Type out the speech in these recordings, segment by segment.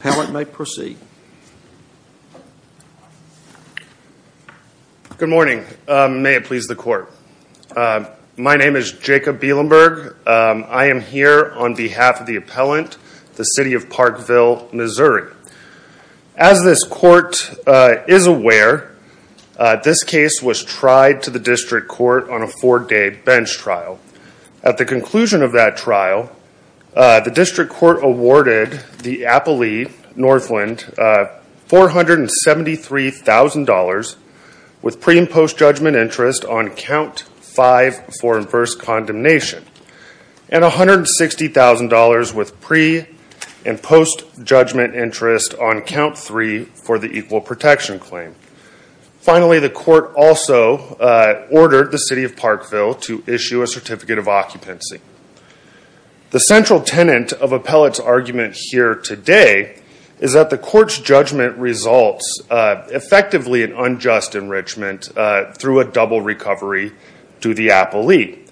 Appellant may proceed. Good morning, may it please the court. My name is Jacob Bielenberg. I am here on behalf of the appellant, the City of Parkville, Missouri. As this court is aware, this case was tried to the district court on a four day bench trial. At the conclusion of that trial, the district court awarded the appellee, Northland, $473,000 with pre and post judgment interest on count 5 for inverse condemnation and $160,000 with pre and post judgment interest on count 3 for the equal protection claim. Finally, the court also ordered the City of Parkville to issue a certificate of occupancy. The central tenant of appellant's argument here today is that the court's judgment results effectively in unjust enrichment through a double recovery to the appellee.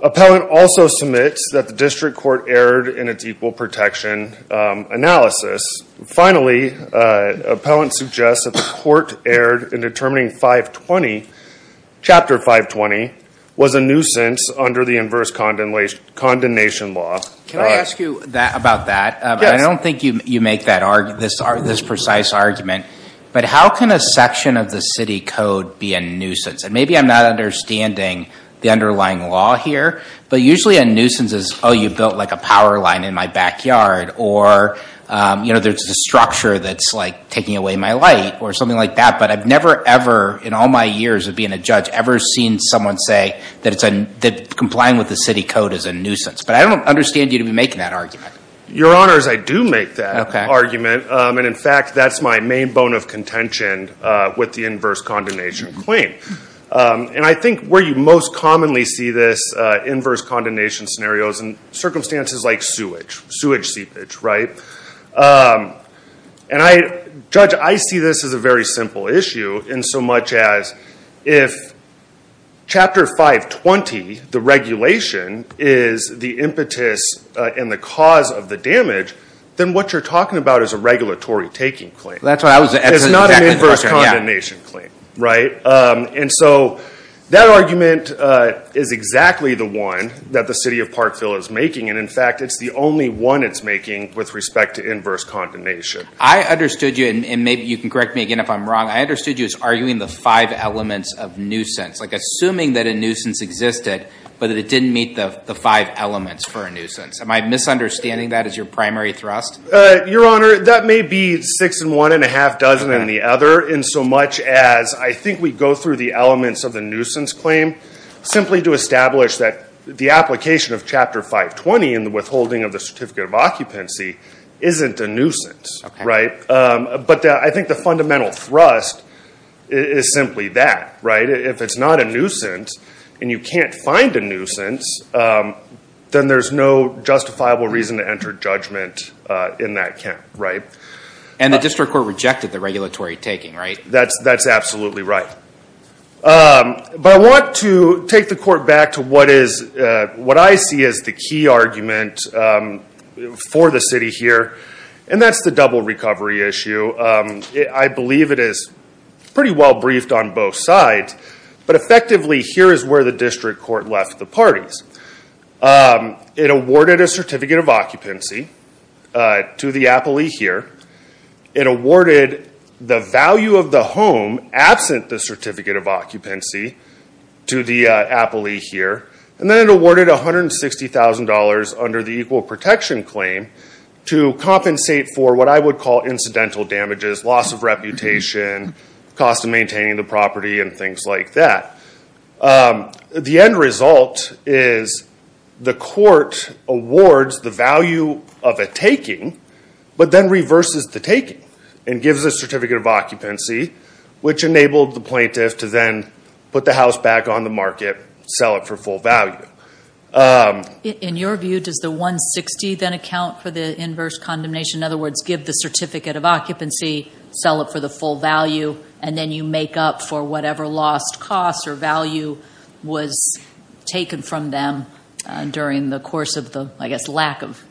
Appellant also submits that the district court erred in its equal protection analysis. Finally, appellant suggests that the court erred in determining Chapter 520 was a nuisance under the inverse condemnation law. Can I ask you about that? I don't think you make this precise argument, but how can a section of the city code be a nuisance? And maybe I'm not understanding the underlying law here, but usually a nuisance is, oh you built like a power line in my backyard, or you know there's a structure that's like taking away my light, or something like that. But I've never ever in all my years of being a judge ever seen someone say that complying with the city code is a nuisance. But I don't understand you to be making that argument. Your Honor, I do make that argument, and in fact that's my main bone of contention with the inverse condemnation claim. And I think where you most commonly see this inverse condemnation scenarios and circumstances like sewage, sewage seepage, right? And I, Judge, I see this as a very simple issue in so much as if chapter 520, the regulation, is the impetus and the cause of the damage, then what you're talking about is a regulatory taking claim. That's what I was, it's not an inverse condemnation claim, right? And so that argument is exactly the one that the City of Parkville is making, and in fact it's the only one it's making with respect to inverse condemnation. I understood you, and maybe you can correct me again if I'm wrong, I understood you as arguing the five elements of nuisance, like assuming that a nuisance existed, but it didn't meet the five elements for a nuisance. Am I misunderstanding that as your primary thrust? Your Honor, that may be six and one and a half dozen in the other, in so much as I think we go through the elements of the nuisance claim simply to establish that the application of chapter 520 in the withholding of the certificate of occupancy isn't a nuisance, right? But I think the fundamental thrust is simply that, right? If it's not a nuisance and you can't find a nuisance, then there's no justifiable reason to enter judgment in that camp, right? And the district court rejected the regulatory taking, right? That's absolutely right. But I want to take the court back to what is, what I see as the key argument for the city here, and that's the double recovery issue. I believe it is pretty well briefed on both sides, but effectively here is where the district court left the parties. It awarded a certificate of occupancy to the appellee here. It awarded the value of the home absent the certificate of occupancy to the appellee here, and then it awarded $160,000 under the equal protection claim to compensate for what I would call incidental damages, loss of reputation, cost of maintaining the property, and things like that. The end result is the court awards the value of a taking, but then reverses the taking and gives a certificate of occupancy, which enabled the plaintiff to then put the house back on the market, sell it for full value. In your view, does the $160,000 then account for the inverse condemnation? In other words, give the certificate of occupancy, sell it for the full value, and then you make up for whatever lost cost or value was taken from them during the course of the, I guess, lack of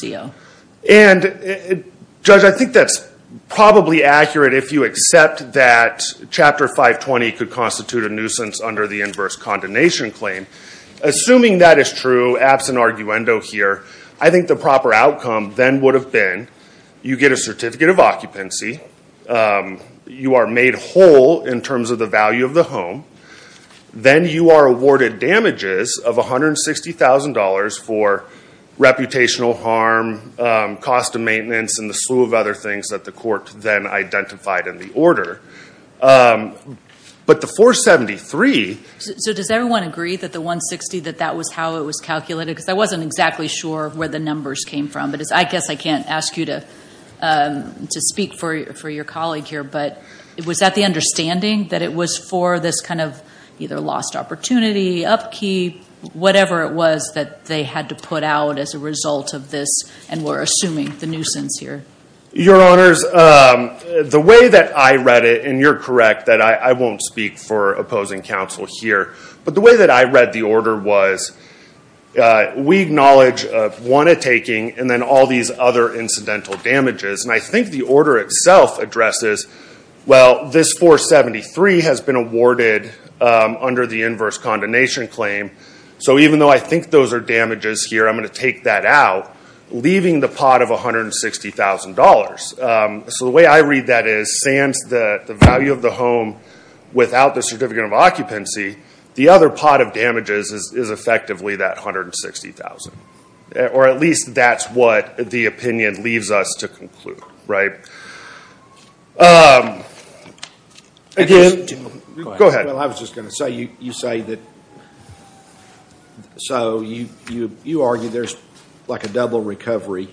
CO. And, Judge, I think that's probably accurate if you accept that Chapter 520 could constitute a nuisance under the inverse condemnation claim. Assuming that is true, absent arguendo here, I think the proper outcome then would have been you get a certificate of occupancy, you are made whole in terms of the value of the home, then you are awarded damages of $160,000 for reputational harm, cost of maintenance, and the slew of other things that the court then identified in the order. But the 473... So does everyone agree that the 160, that that was how it was calculated? Because I wasn't exactly sure where the numbers came from, but I guess I can't ask you to speak for your colleague here, but was that the understanding? That it was for this kind of either lost opportunity, upkeep, whatever it was that they had to put out as a result of this and we're assuming the nuisance here? Your Honors, the way that I read it, and you're correct that I acknowledge one of taking and then all these other incidental damages, and I think the order itself addresses, well this 473 has been awarded under the inverse condemnation claim, so even though I think those are damages here, I'm going to take that out, leaving the pot of $160,000. So the way I read that is sans the value of the home without the certificate of occupancy, the other pot of damages is effectively that $160,000. Or at least that's what the opinion leaves us to conclude, right? Again, go ahead. Well I was just going to say, you say that, so you argue there's like a double recovery,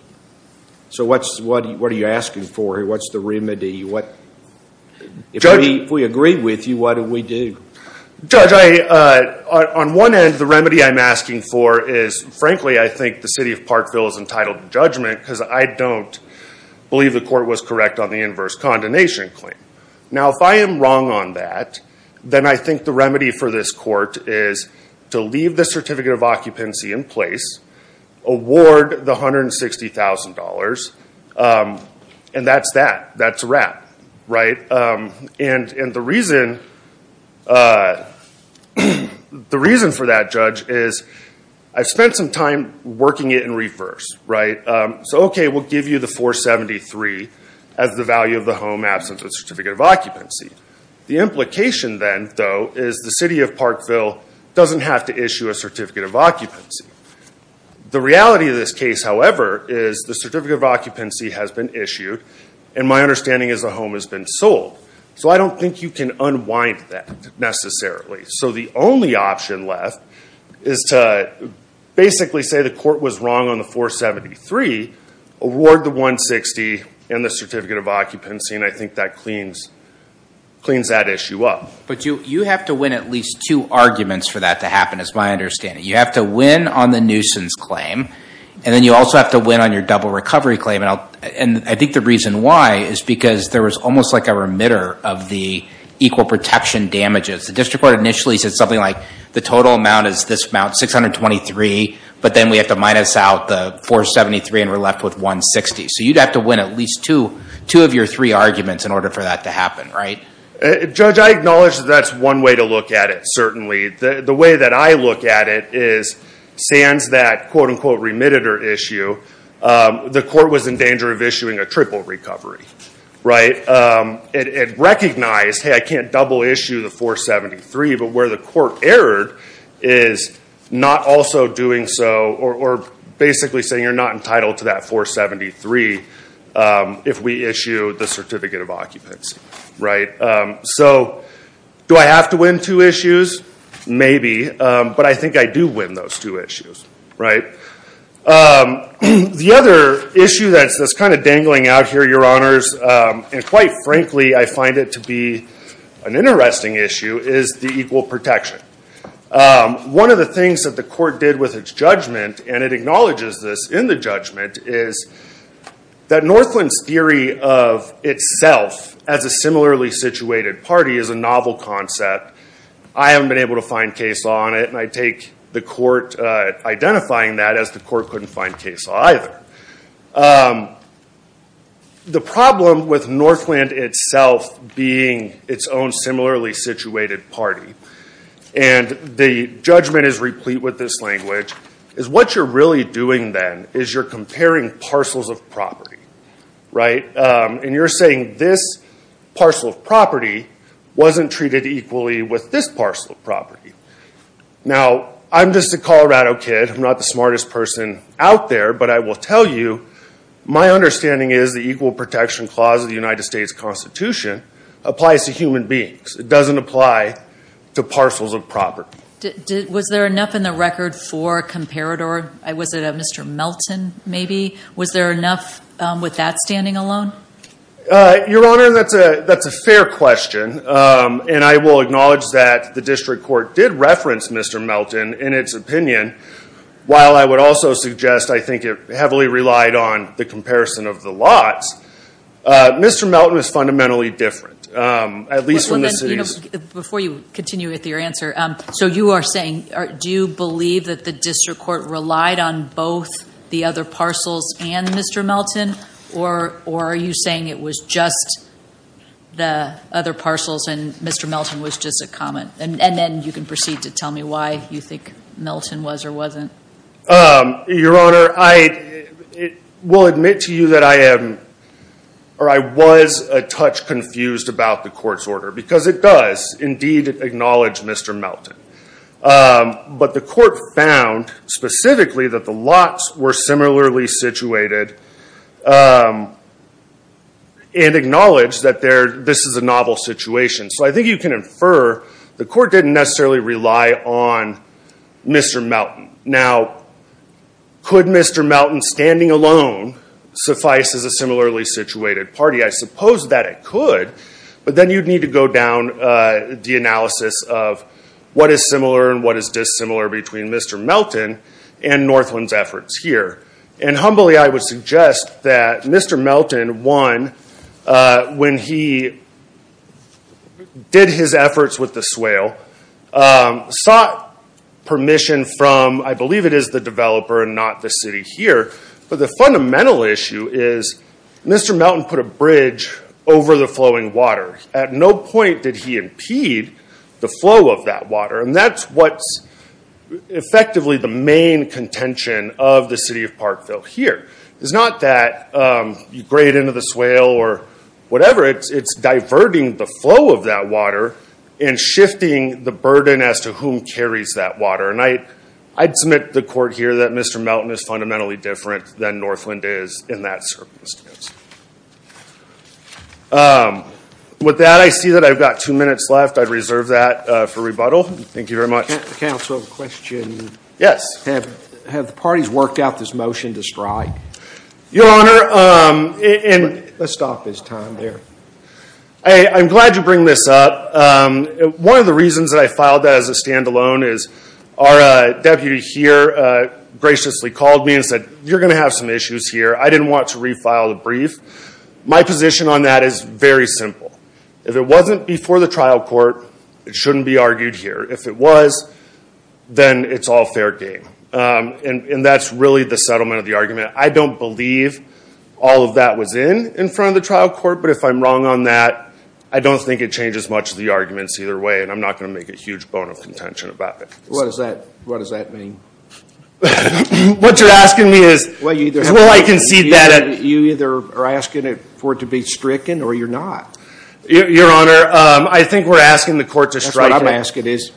so what's, what are you asking for here? What's the remedy? If we agree with you, what do we do? Judge, on one end, the remedy I'm asking for is, frankly, I think the city of Parkville is entitled to judgment because I don't believe the court was correct on the inverse condemnation claim. Now if I am wrong on that, then I think the remedy for this court is to leave the certificate of occupancy in place, award the $160,000, and that's that. That's a wrap, right? And the reason for that, Judge, is I've spent some time working it in reverse, right? So okay, we'll give you the $473,000 as the value of the home absent a certificate of occupancy. The implication then, though, is the city of Parkville doesn't have to issue a certificate of occupancy. The reality of this case, however, is the certificate of occupancy has been issued, and my understanding is the home has been sold. So I don't think you can unwind that necessarily. So the only option left is to basically say the court was wrong on the $473,000, award the $160,000, and the certificate of occupancy, and I think that cleans that issue up. But you have to win at least two arguments for that to happen, is my understanding. You have to win on the nuisance claim, and then you also have to win on your double recovery claim, and I think the reason why is because there was almost like a remitter of the equal protection damages. The district court initially said something like the total amount is this amount, $623,000, but then we have to minus out the $473,000, and we're left with $160,000. So you'd have to win at least two of your three arguments in order for that to happen, right? Judge, I acknowledge that that's one way to look at it, certainly. The way that I look at it is sans that quote-unquote remitter issue, the court was in danger of issuing a triple recovery, right? It recognized, hey, I can't double issue the $473,000, but where the court erred is not also doing so, or basically saying you're not entitled to that $473,000 if we issue the certificate of occupancy, right? So do I have to win two issues? Maybe, but I think I do win those two issues, right? The other issue that's kind of dangling out here, your honors, and quite frankly I find it to be an interesting issue, is the equal protection. One of the things that the court did with its judgment, and it acknowledges this in the judgment, is that Northland's theory of itself as a similarly situated party is a novel concept. I haven't been able to find case law on it, and I take the court identifying that as the court couldn't find case law either. The problem with Northland itself being its own similarly situated party, and the judgment is replete with this language, is what you're really doing then is you're comparing parcels of property, right? And you're saying this parcel of property wasn't treated equally with this parcel of property. Now I'm just a Colorado kid, I'm not the smartest person out there, but I will tell you my understanding is the equal protection clause of the United States Constitution applies to human beings. It doesn't apply to parcels of property. Was there enough in the record for Comparador? Was it a Mr. Melton maybe? Was there And I will acknowledge that the district court did reference Mr. Melton in its opinion, while I would also suggest I think it heavily relied on the comparison of the lots. Mr. Melton is fundamentally different, at least from the cities. Before you continue with your answer, so you are saying, do you believe that the district court relied on both the other parcels and Mr. Melton? Or are you saying it was just the other parcels and Mr. Melton was just a comment? And then you can proceed to tell me why you think Melton was or wasn't. Your Honor, I will admit to you that I am or I was a touch confused about the court's order, because it does indeed acknowledge Mr. Melton. But the court found specifically that the lots were similarly situated and acknowledged that this is a novel situation. So I think you can infer the court didn't necessarily rely on Mr. Melton. Now, could Mr. Melton standing alone suffice as a similarly situated party? I suppose that it could, but then you'd need to go down the analysis of what is similar and what is dissimilar between Mr. Melton and Northland's efforts here. And humbly, I would suggest that Mr. Melton, one, when he did his efforts with the swale, sought permission from, I believe it is the developer and not the city here. But the fundamental issue is Mr. Melton put a over the flowing water. At no point did he impede the flow of that water. And that's what's effectively the main contention of the city of Parkville here. It's not that you grade into the swale or whatever. It's diverting the flow of that water and shifting the burden as to whom carries that water. And I'd submit the court here that Mr. Melton is fundamentally different than Northland is in that circumstance. With that, I see that I've got two minutes left. I'd reserve that for rebuttal. Thank you very much. Can I also have a question? Yes. Have the parties worked out this motion to strike? Your Honor, and... Let's stop this time there. I'm glad you bring this up. One of the reasons that I filed that as a stand alone is our deputy here graciously called me and said, you're going to have some issues here. I didn't want to refile the brief. My position on that is very simple. If it wasn't before the trial court, it shouldn't be argued here. If it was, then it's all fair game. And that's really the settlement of the argument. I don't believe all of that was in in front of the trial court. But if I'm wrong on that, I don't think it changes much of the arguments either way. And I'm not going to make a huge bone of contention about it. What does that mean? What you're asking me is... Well, I concede that... You either are asking it for it to be stricken or you're not. Your Honor, I think we're asking the court to strike it. That's what I'm asking is...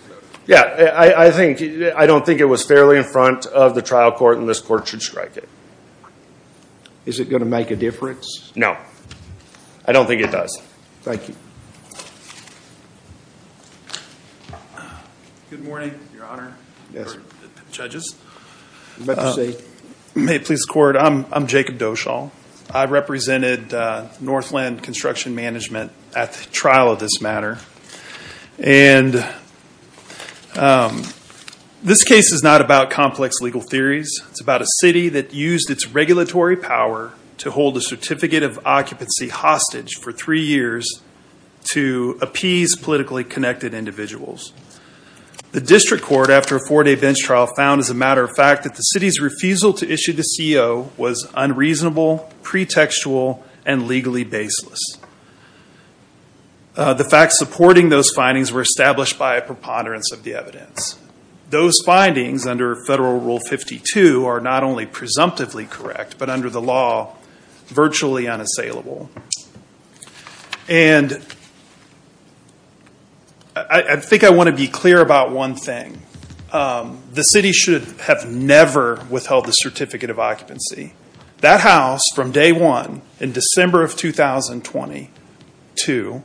Yeah, I don't think it was fairly in front of the trial court and this court should strike it. Is it going to make a difference? No. I don't think it does. Thank you. Good morning, Your Honor, or judges. You're about to see. May it please the court. I'm Jacob Doshall. I represented Northland Construction Management at the trial of this matter. And this case is not about complex legal theories. It's about a city that used its regulatory power to hold a certificate of occupancy hostage for three years to appease politically connected individuals. The district court, after a four-day bench trial, found as a refusal to issue the CO was unreasonable, pretextual, and legally baseless. The facts supporting those findings were established by a preponderance of the evidence. Those findings under Federal Rule 52 are not only presumptively correct, but under the law, virtually unassailable. And I think I want to be clear about one thing. The city should have never withheld the certificate of occupancy. That house, from day one in December of 2022,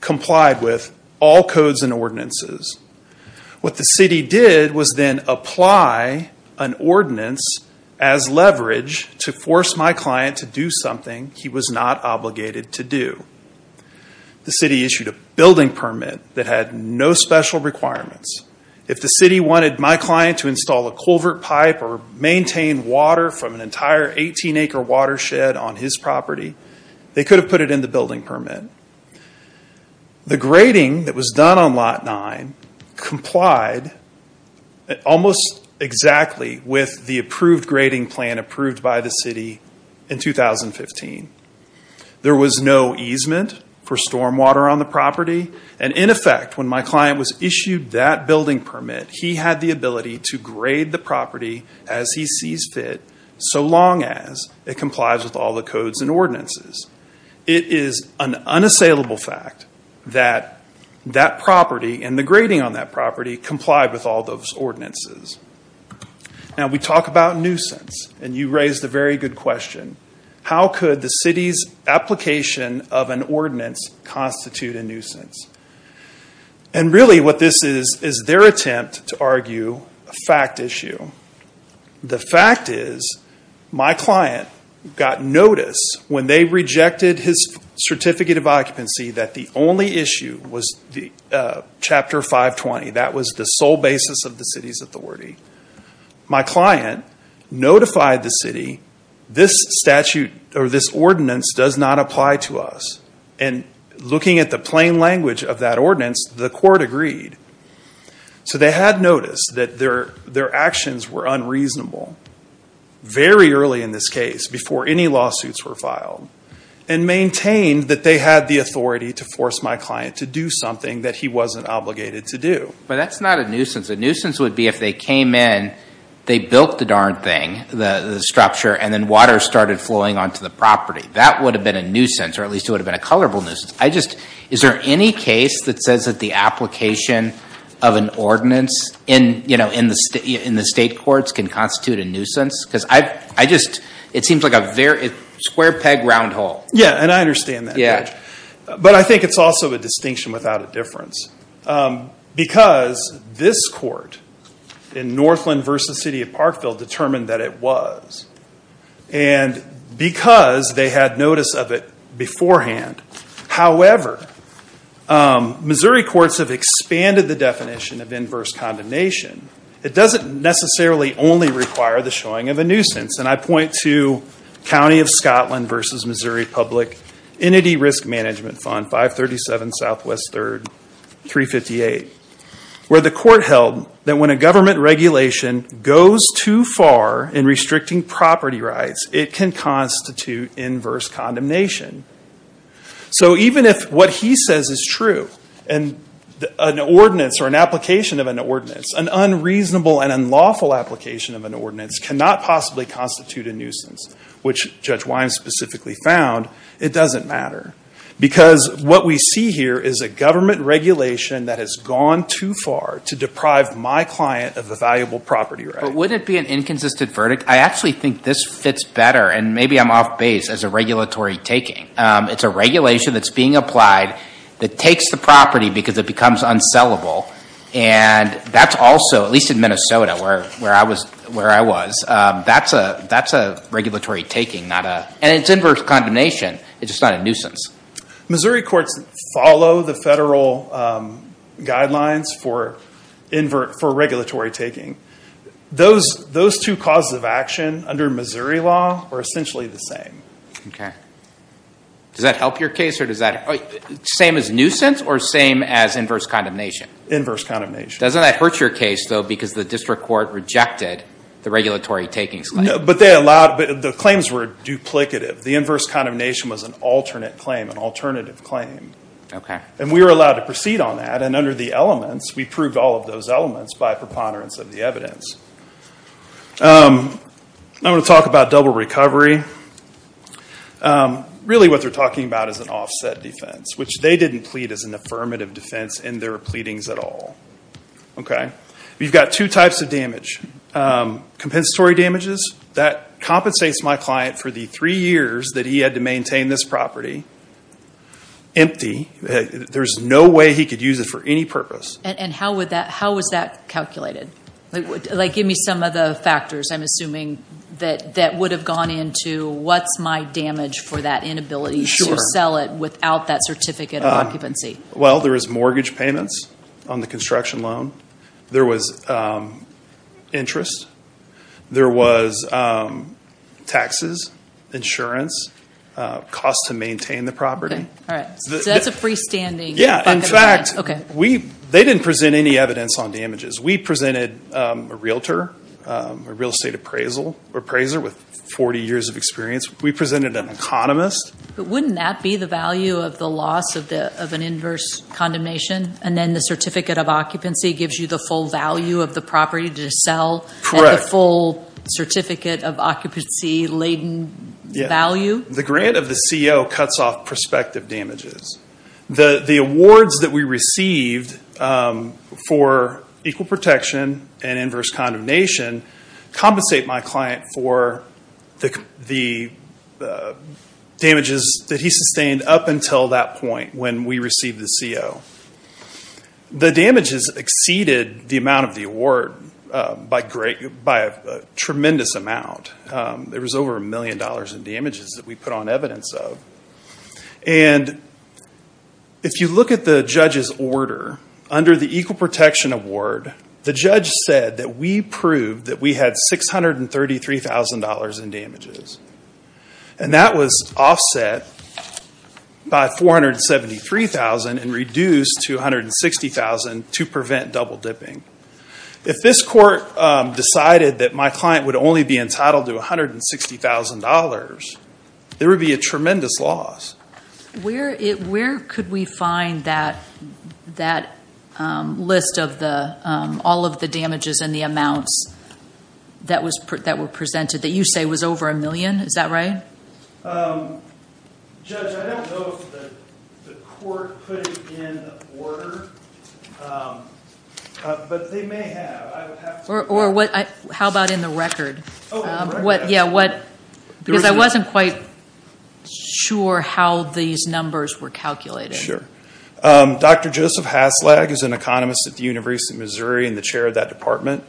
complied with all codes and ordinances. What the city did was then apply an ordinance as leverage to force my client to do something he was not obligated to do. The city issued a building permit that had no special requirements. If the city wanted my client to install a culvert pipe or maintain water from an entire 18-acre watershed on his property, they could have put it in the building permit. The grading that was done on Lot 9 complied almost exactly with the approved grading plan approved by the city in 2015. There was no easement for stormwater on the property. And in effect, when my client was issued that building permit, he had the ability to grade the property as he sees fit, so long as it complies with all the codes and ordinances. It is an unassailable fact that that property and the grading on that property complied with all those ordinances. Now we talk about nuisance, and you raised a very good question. How could the city's application of an ordinance be unassailable? Really what this is is their attempt to argue a fact issue. The fact is, my client got notice when they rejected his certificate of occupancy that the only issue was Chapter 520. That was the sole basis of the city's authority. My client notified the city, this ordinance does not apply to us, and looking at the plain language of that ordinance, the court agreed. So they had noticed that their actions were unreasonable very early in this case, before any lawsuits were filed, and maintained that they had the authority to force my client to do something that he wasn't obligated to do. But that's not a nuisance. A nuisance would be if they came in, they built the darn thing, the structure, and then water started flowing onto the property. That would have been a nuisance, or at least it would have been a colorable nuisance. I just, is there any case that says that the application of an ordinance in the state courts can constitute a nuisance? Because I just, it seems like a square peg round hole. Yeah, and I understand that. But I think it's also a distinction without a difference. Because this court in Northland v. City of Parkville determined that it was. And because they had notice of it beforehand. However, Missouri courts have expanded the definition of inverse condemnation. It doesn't necessarily only require the showing of a nuisance. And I point to County of Scotland v. Missouri Public Entity Risk Management Fund, 537 Southwest 3rd, 358, where the restricting property rights, it can constitute inverse condemnation. So even if what he says is true, and an ordinance or an application of an ordinance, an unreasonable and unlawful application of an ordinance cannot possibly constitute a nuisance, which Judge Wyman specifically found, it doesn't matter. Because what we see here is a government regulation that has gone too far to deprive my client of a valuable property right. But wouldn't it be an inconsistent verdict? I actually think this fits better. And maybe I'm off base as a regulatory taking. It's a regulation that's being applied that takes the property because it becomes unsellable. And that's also, at least in Minnesota where I was, that's a regulatory taking. And it's inverse condemnation. It's just not a nuisance. Missouri courts follow the federal guidelines for regulatory taking. Those two causes of action under Missouri law are essentially the same. Okay. Does that help your case? Or does that, same as nuisance or same as inverse condemnation? Inverse condemnation. Doesn't that hurt your case though because the district court rejected the regulatory taking? But they allowed, the claims were duplicative. The inverse condemnation was an alternate claim, an alternative claim. And we were allowed to proceed on that. And under the elements, we proved all of those elements by preponderance of the evidence. I'm going to talk about double recovery. Really what they're talking about is an offset defense, which they didn't plead as an affirmative defense in their pleadings at all. Okay. We've got two types of damage. Compensatory damages. That compensates my client for the three years that he had to maintain this property. Empty. There's no way he could use it for any purpose. And how was that calculated? Like give me some of the factors I'm assuming that would have gone into what's my damage for that inability to sell it without that certificate of occupancy. Well, there was mortgage payments on the construction loan. There was interest. There was taxes, insurance, costs to maintain the property. Okay. All right. So that's a freestanding bucket of damage. Yeah. In fact, they didn't present any evidence on damages. We presented a realtor, a real estate appraiser with 40 years of experience. We presented an economist. But wouldn't that be the value of the loss of an inverse condemnation? And then the certificate of occupancy gives you the full value of the property to sell? And the full certificate of occupancy laden value? Yeah. The grant of the CO cuts off prospective damages. The awards that we received for equal protection and inverse condemnation compensate my client for the damages that he sustained up until that point when we received the CO. The damages exceeded the amount of the award by a tremendous amount. There was over a million dollars in damages that we put on evidence of. And if you look at the judge's order, under the equal protection award, the judge said that we proved that we had $633,000 in damages. And that was offset by $473,000 and $473,000 to prevent double dipping. If this court decided that my client would only be entitled to $160,000, there would be a tremendous loss. Where could we find that list of all of the damages and the amounts that were presented that you say was over a million? Is that right? Judge, I don't know if the court put it in order, but they may have. How about in the record? Because I wasn't quite sure how these numbers were Sure. Dr. Joseph Haslag is an economist at the University of Missouri and the Court of Appraisal.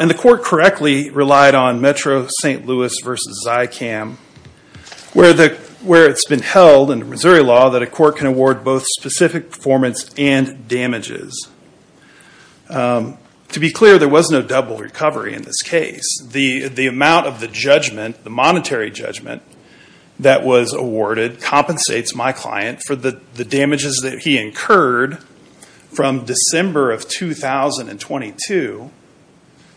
And the court correctly relied on Metro-St. Louis versus Zycam, where it's been held in Missouri law that a court can award both specific performance and damages. To be clear, there was no double recovery in this case. The amount of the judgment, the monetary judgment, that was awarded compensates my client for the damages that he incurred from December of 2022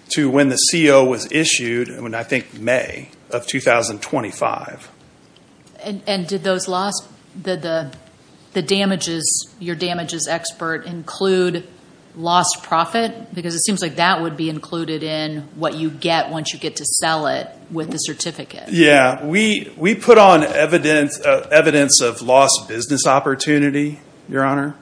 to when the CO was issued, I think May of 2025. And did your damages expert include lost profit? Because it seems like that would be included in what you get once you get to sell it with the certificate. We put on evidence of lost business opportunity, Your Honor.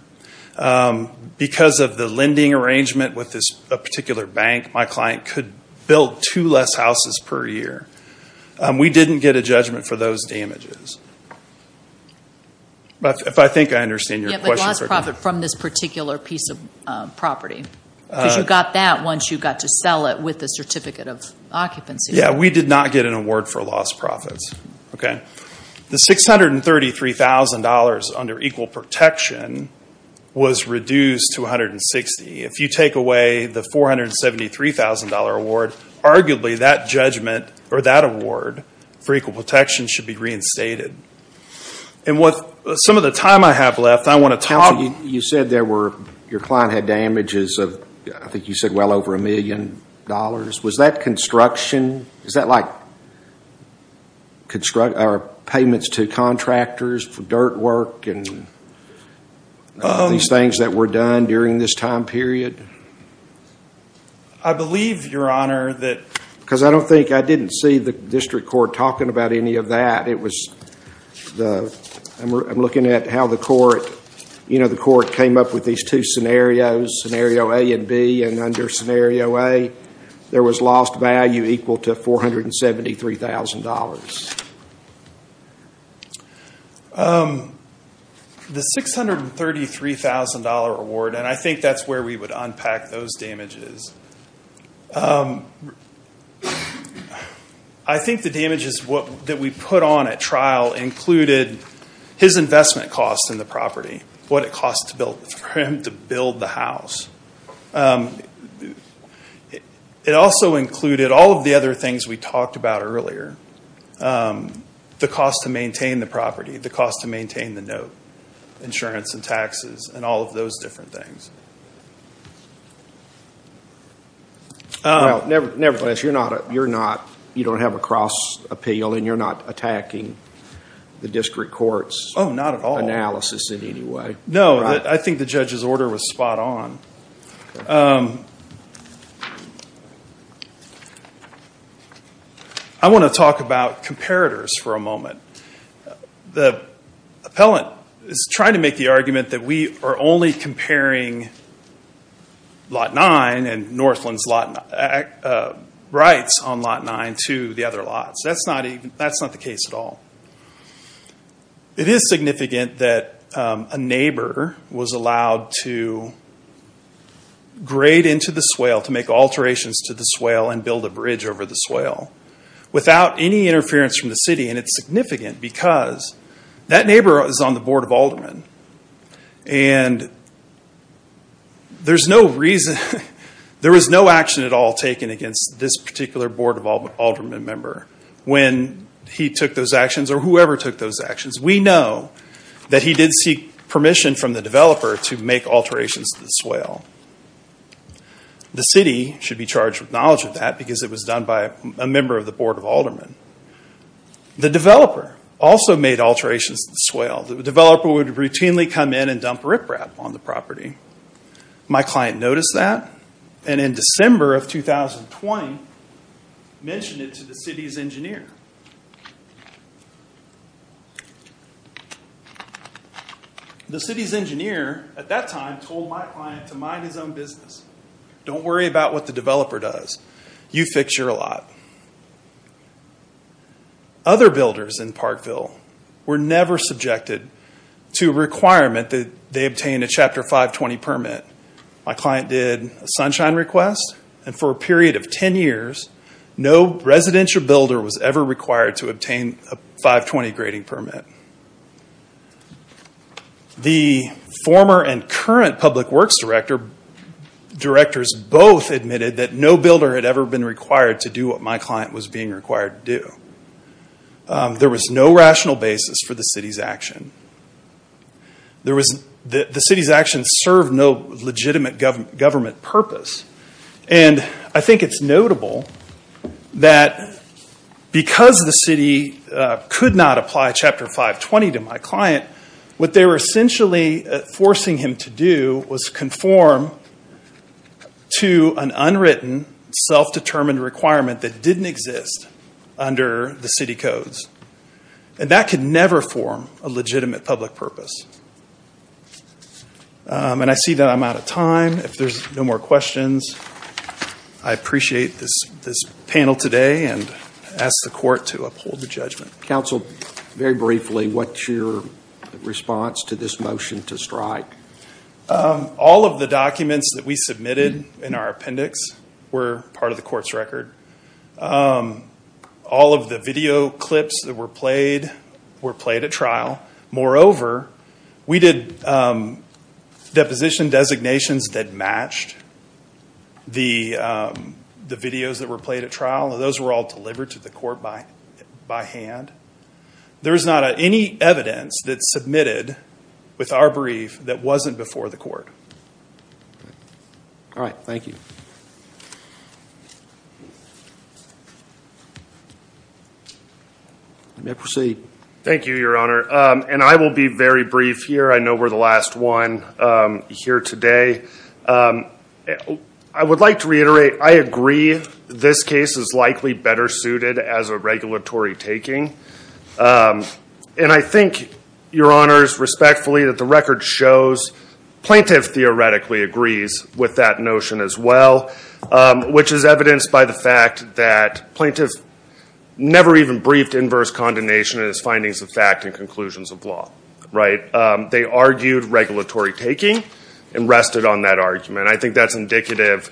Because of the lending arrangement with a particular bank, my client could build two less houses per year. We didn't get a judgment for those damages. We did not get an award for lost profits. The $633,000 under equal protection was reduced to $160,000. If you take away the $473,000 award, arguably that judgment or that award for equal protection should be reinstated. Some of the time I have left, I want to talk... You said your client had damages of well over $1 million. Was that construction? Is that like payments to contractors for dirt work and these things that were done during this time period? I believe, Your Honor, that... Because I don't think I didn't see the district court talking about any of that. I'm looking at how the court came up with these two scenarios, Scenario A and B. And under Scenario A, there was lost value equal to $473,000. The $633,000 award, and I think that's where we would unpack those damages, I think the damages that we put on at trial included his investment costs in the property, what it cost for him to build the house. It also included all of the other things we talked about earlier, the cost to maintain the property, the cost to maintain the note, insurance and taxes, and all of those different things. Nevertheless, you don't have a cross appeal and you're not attacking the district court's analysis in any way. I want to talk about comparators for a moment. The appellant is trying to make the argument that we are only comparing Lot 9 and Northland's rights on Lot 9 to the other lots. That's not the case at all. It is significant that a neighbor was allowed to grade into the swale, to make alterations to the swale and build a bridge over the swale without any interference from the city. It's significant because that neighbor is on the Board of Aldermen. There was no action at all taken against this particular Board of Aldermen member. When he took those actions, or whoever took those actions, we know that he did seek permission from the developer to make alterations to the swale. The city should be charged with knowledge of that because it was done by a member of the Board of Aldermen. The developer also made alterations to the swale. The developer would routinely come in and dump riprap on the property. My client noticed that and in December of 2020 mentioned it to the city's engineer. The city's engineer at that time told my client to mind his own business. Don't worry about what the developer does. You fix your lot. Other builders in Parkville were never subjected to a requirement that they obtain a Chapter 520 permit. My client did a sunshine request and for a period of 10 years, no residential builder was ever required to obtain a 520 grading permit. The former and current public works directors both admitted that no builder had ever been required to do what my client was being required to do. There was no rational basis for the city's action. The city's action served no legitimate government purpose. I think it's notable that because the city could not apply Chapter 520 to my client, what they were essentially forcing him to do was conform to an unwritten, self-determined requirement that didn't exist under the city codes. And that could never form a legitimate public purpose. And I see that I'm out of time. If there's no more questions, I appreciate this panel today and ask the court to uphold the judgment. Counsel, very briefly, what's your response to this motion to strike? All of the documents that we submitted in our appendix were part of the court's record. All of the video clips that were played were played at trial. Moreover, we did deposition designations that matched the videos that were played at trial. Those were all delivered to the court by hand. There is not any evidence that's submitted with our brief that wasn't before the court. Thank you, Your Honor. And I will be very brief here. I know we're the last one here today. I would like to reiterate I agree this case is likely better suited as a regulatory taking. And I think, Your Honors, respectfully, that the record shows plaintiff theoretically agrees with that notion as well, which is evidenced by the fact that plaintiff never even briefed inverse condemnation in his findings of fact and conclusions of law. They argued regulatory taking and rested on that argument. I think that's indicative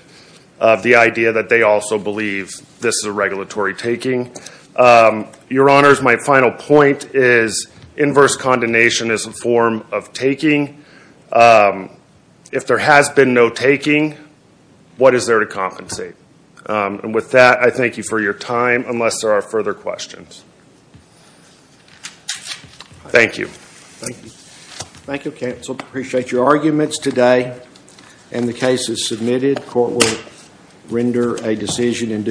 of the idea that they also believe this is a regulatory taking. Your Honors, my final point is inverse condemnation is a form of taking. If there has been no taking, what is there to compensate? And with that, I thank you for your time, unless there are further questions. Thank you. Thank you, counsel. Appreciate your arguments today. And the case is submitted. Court will render a decision in due course.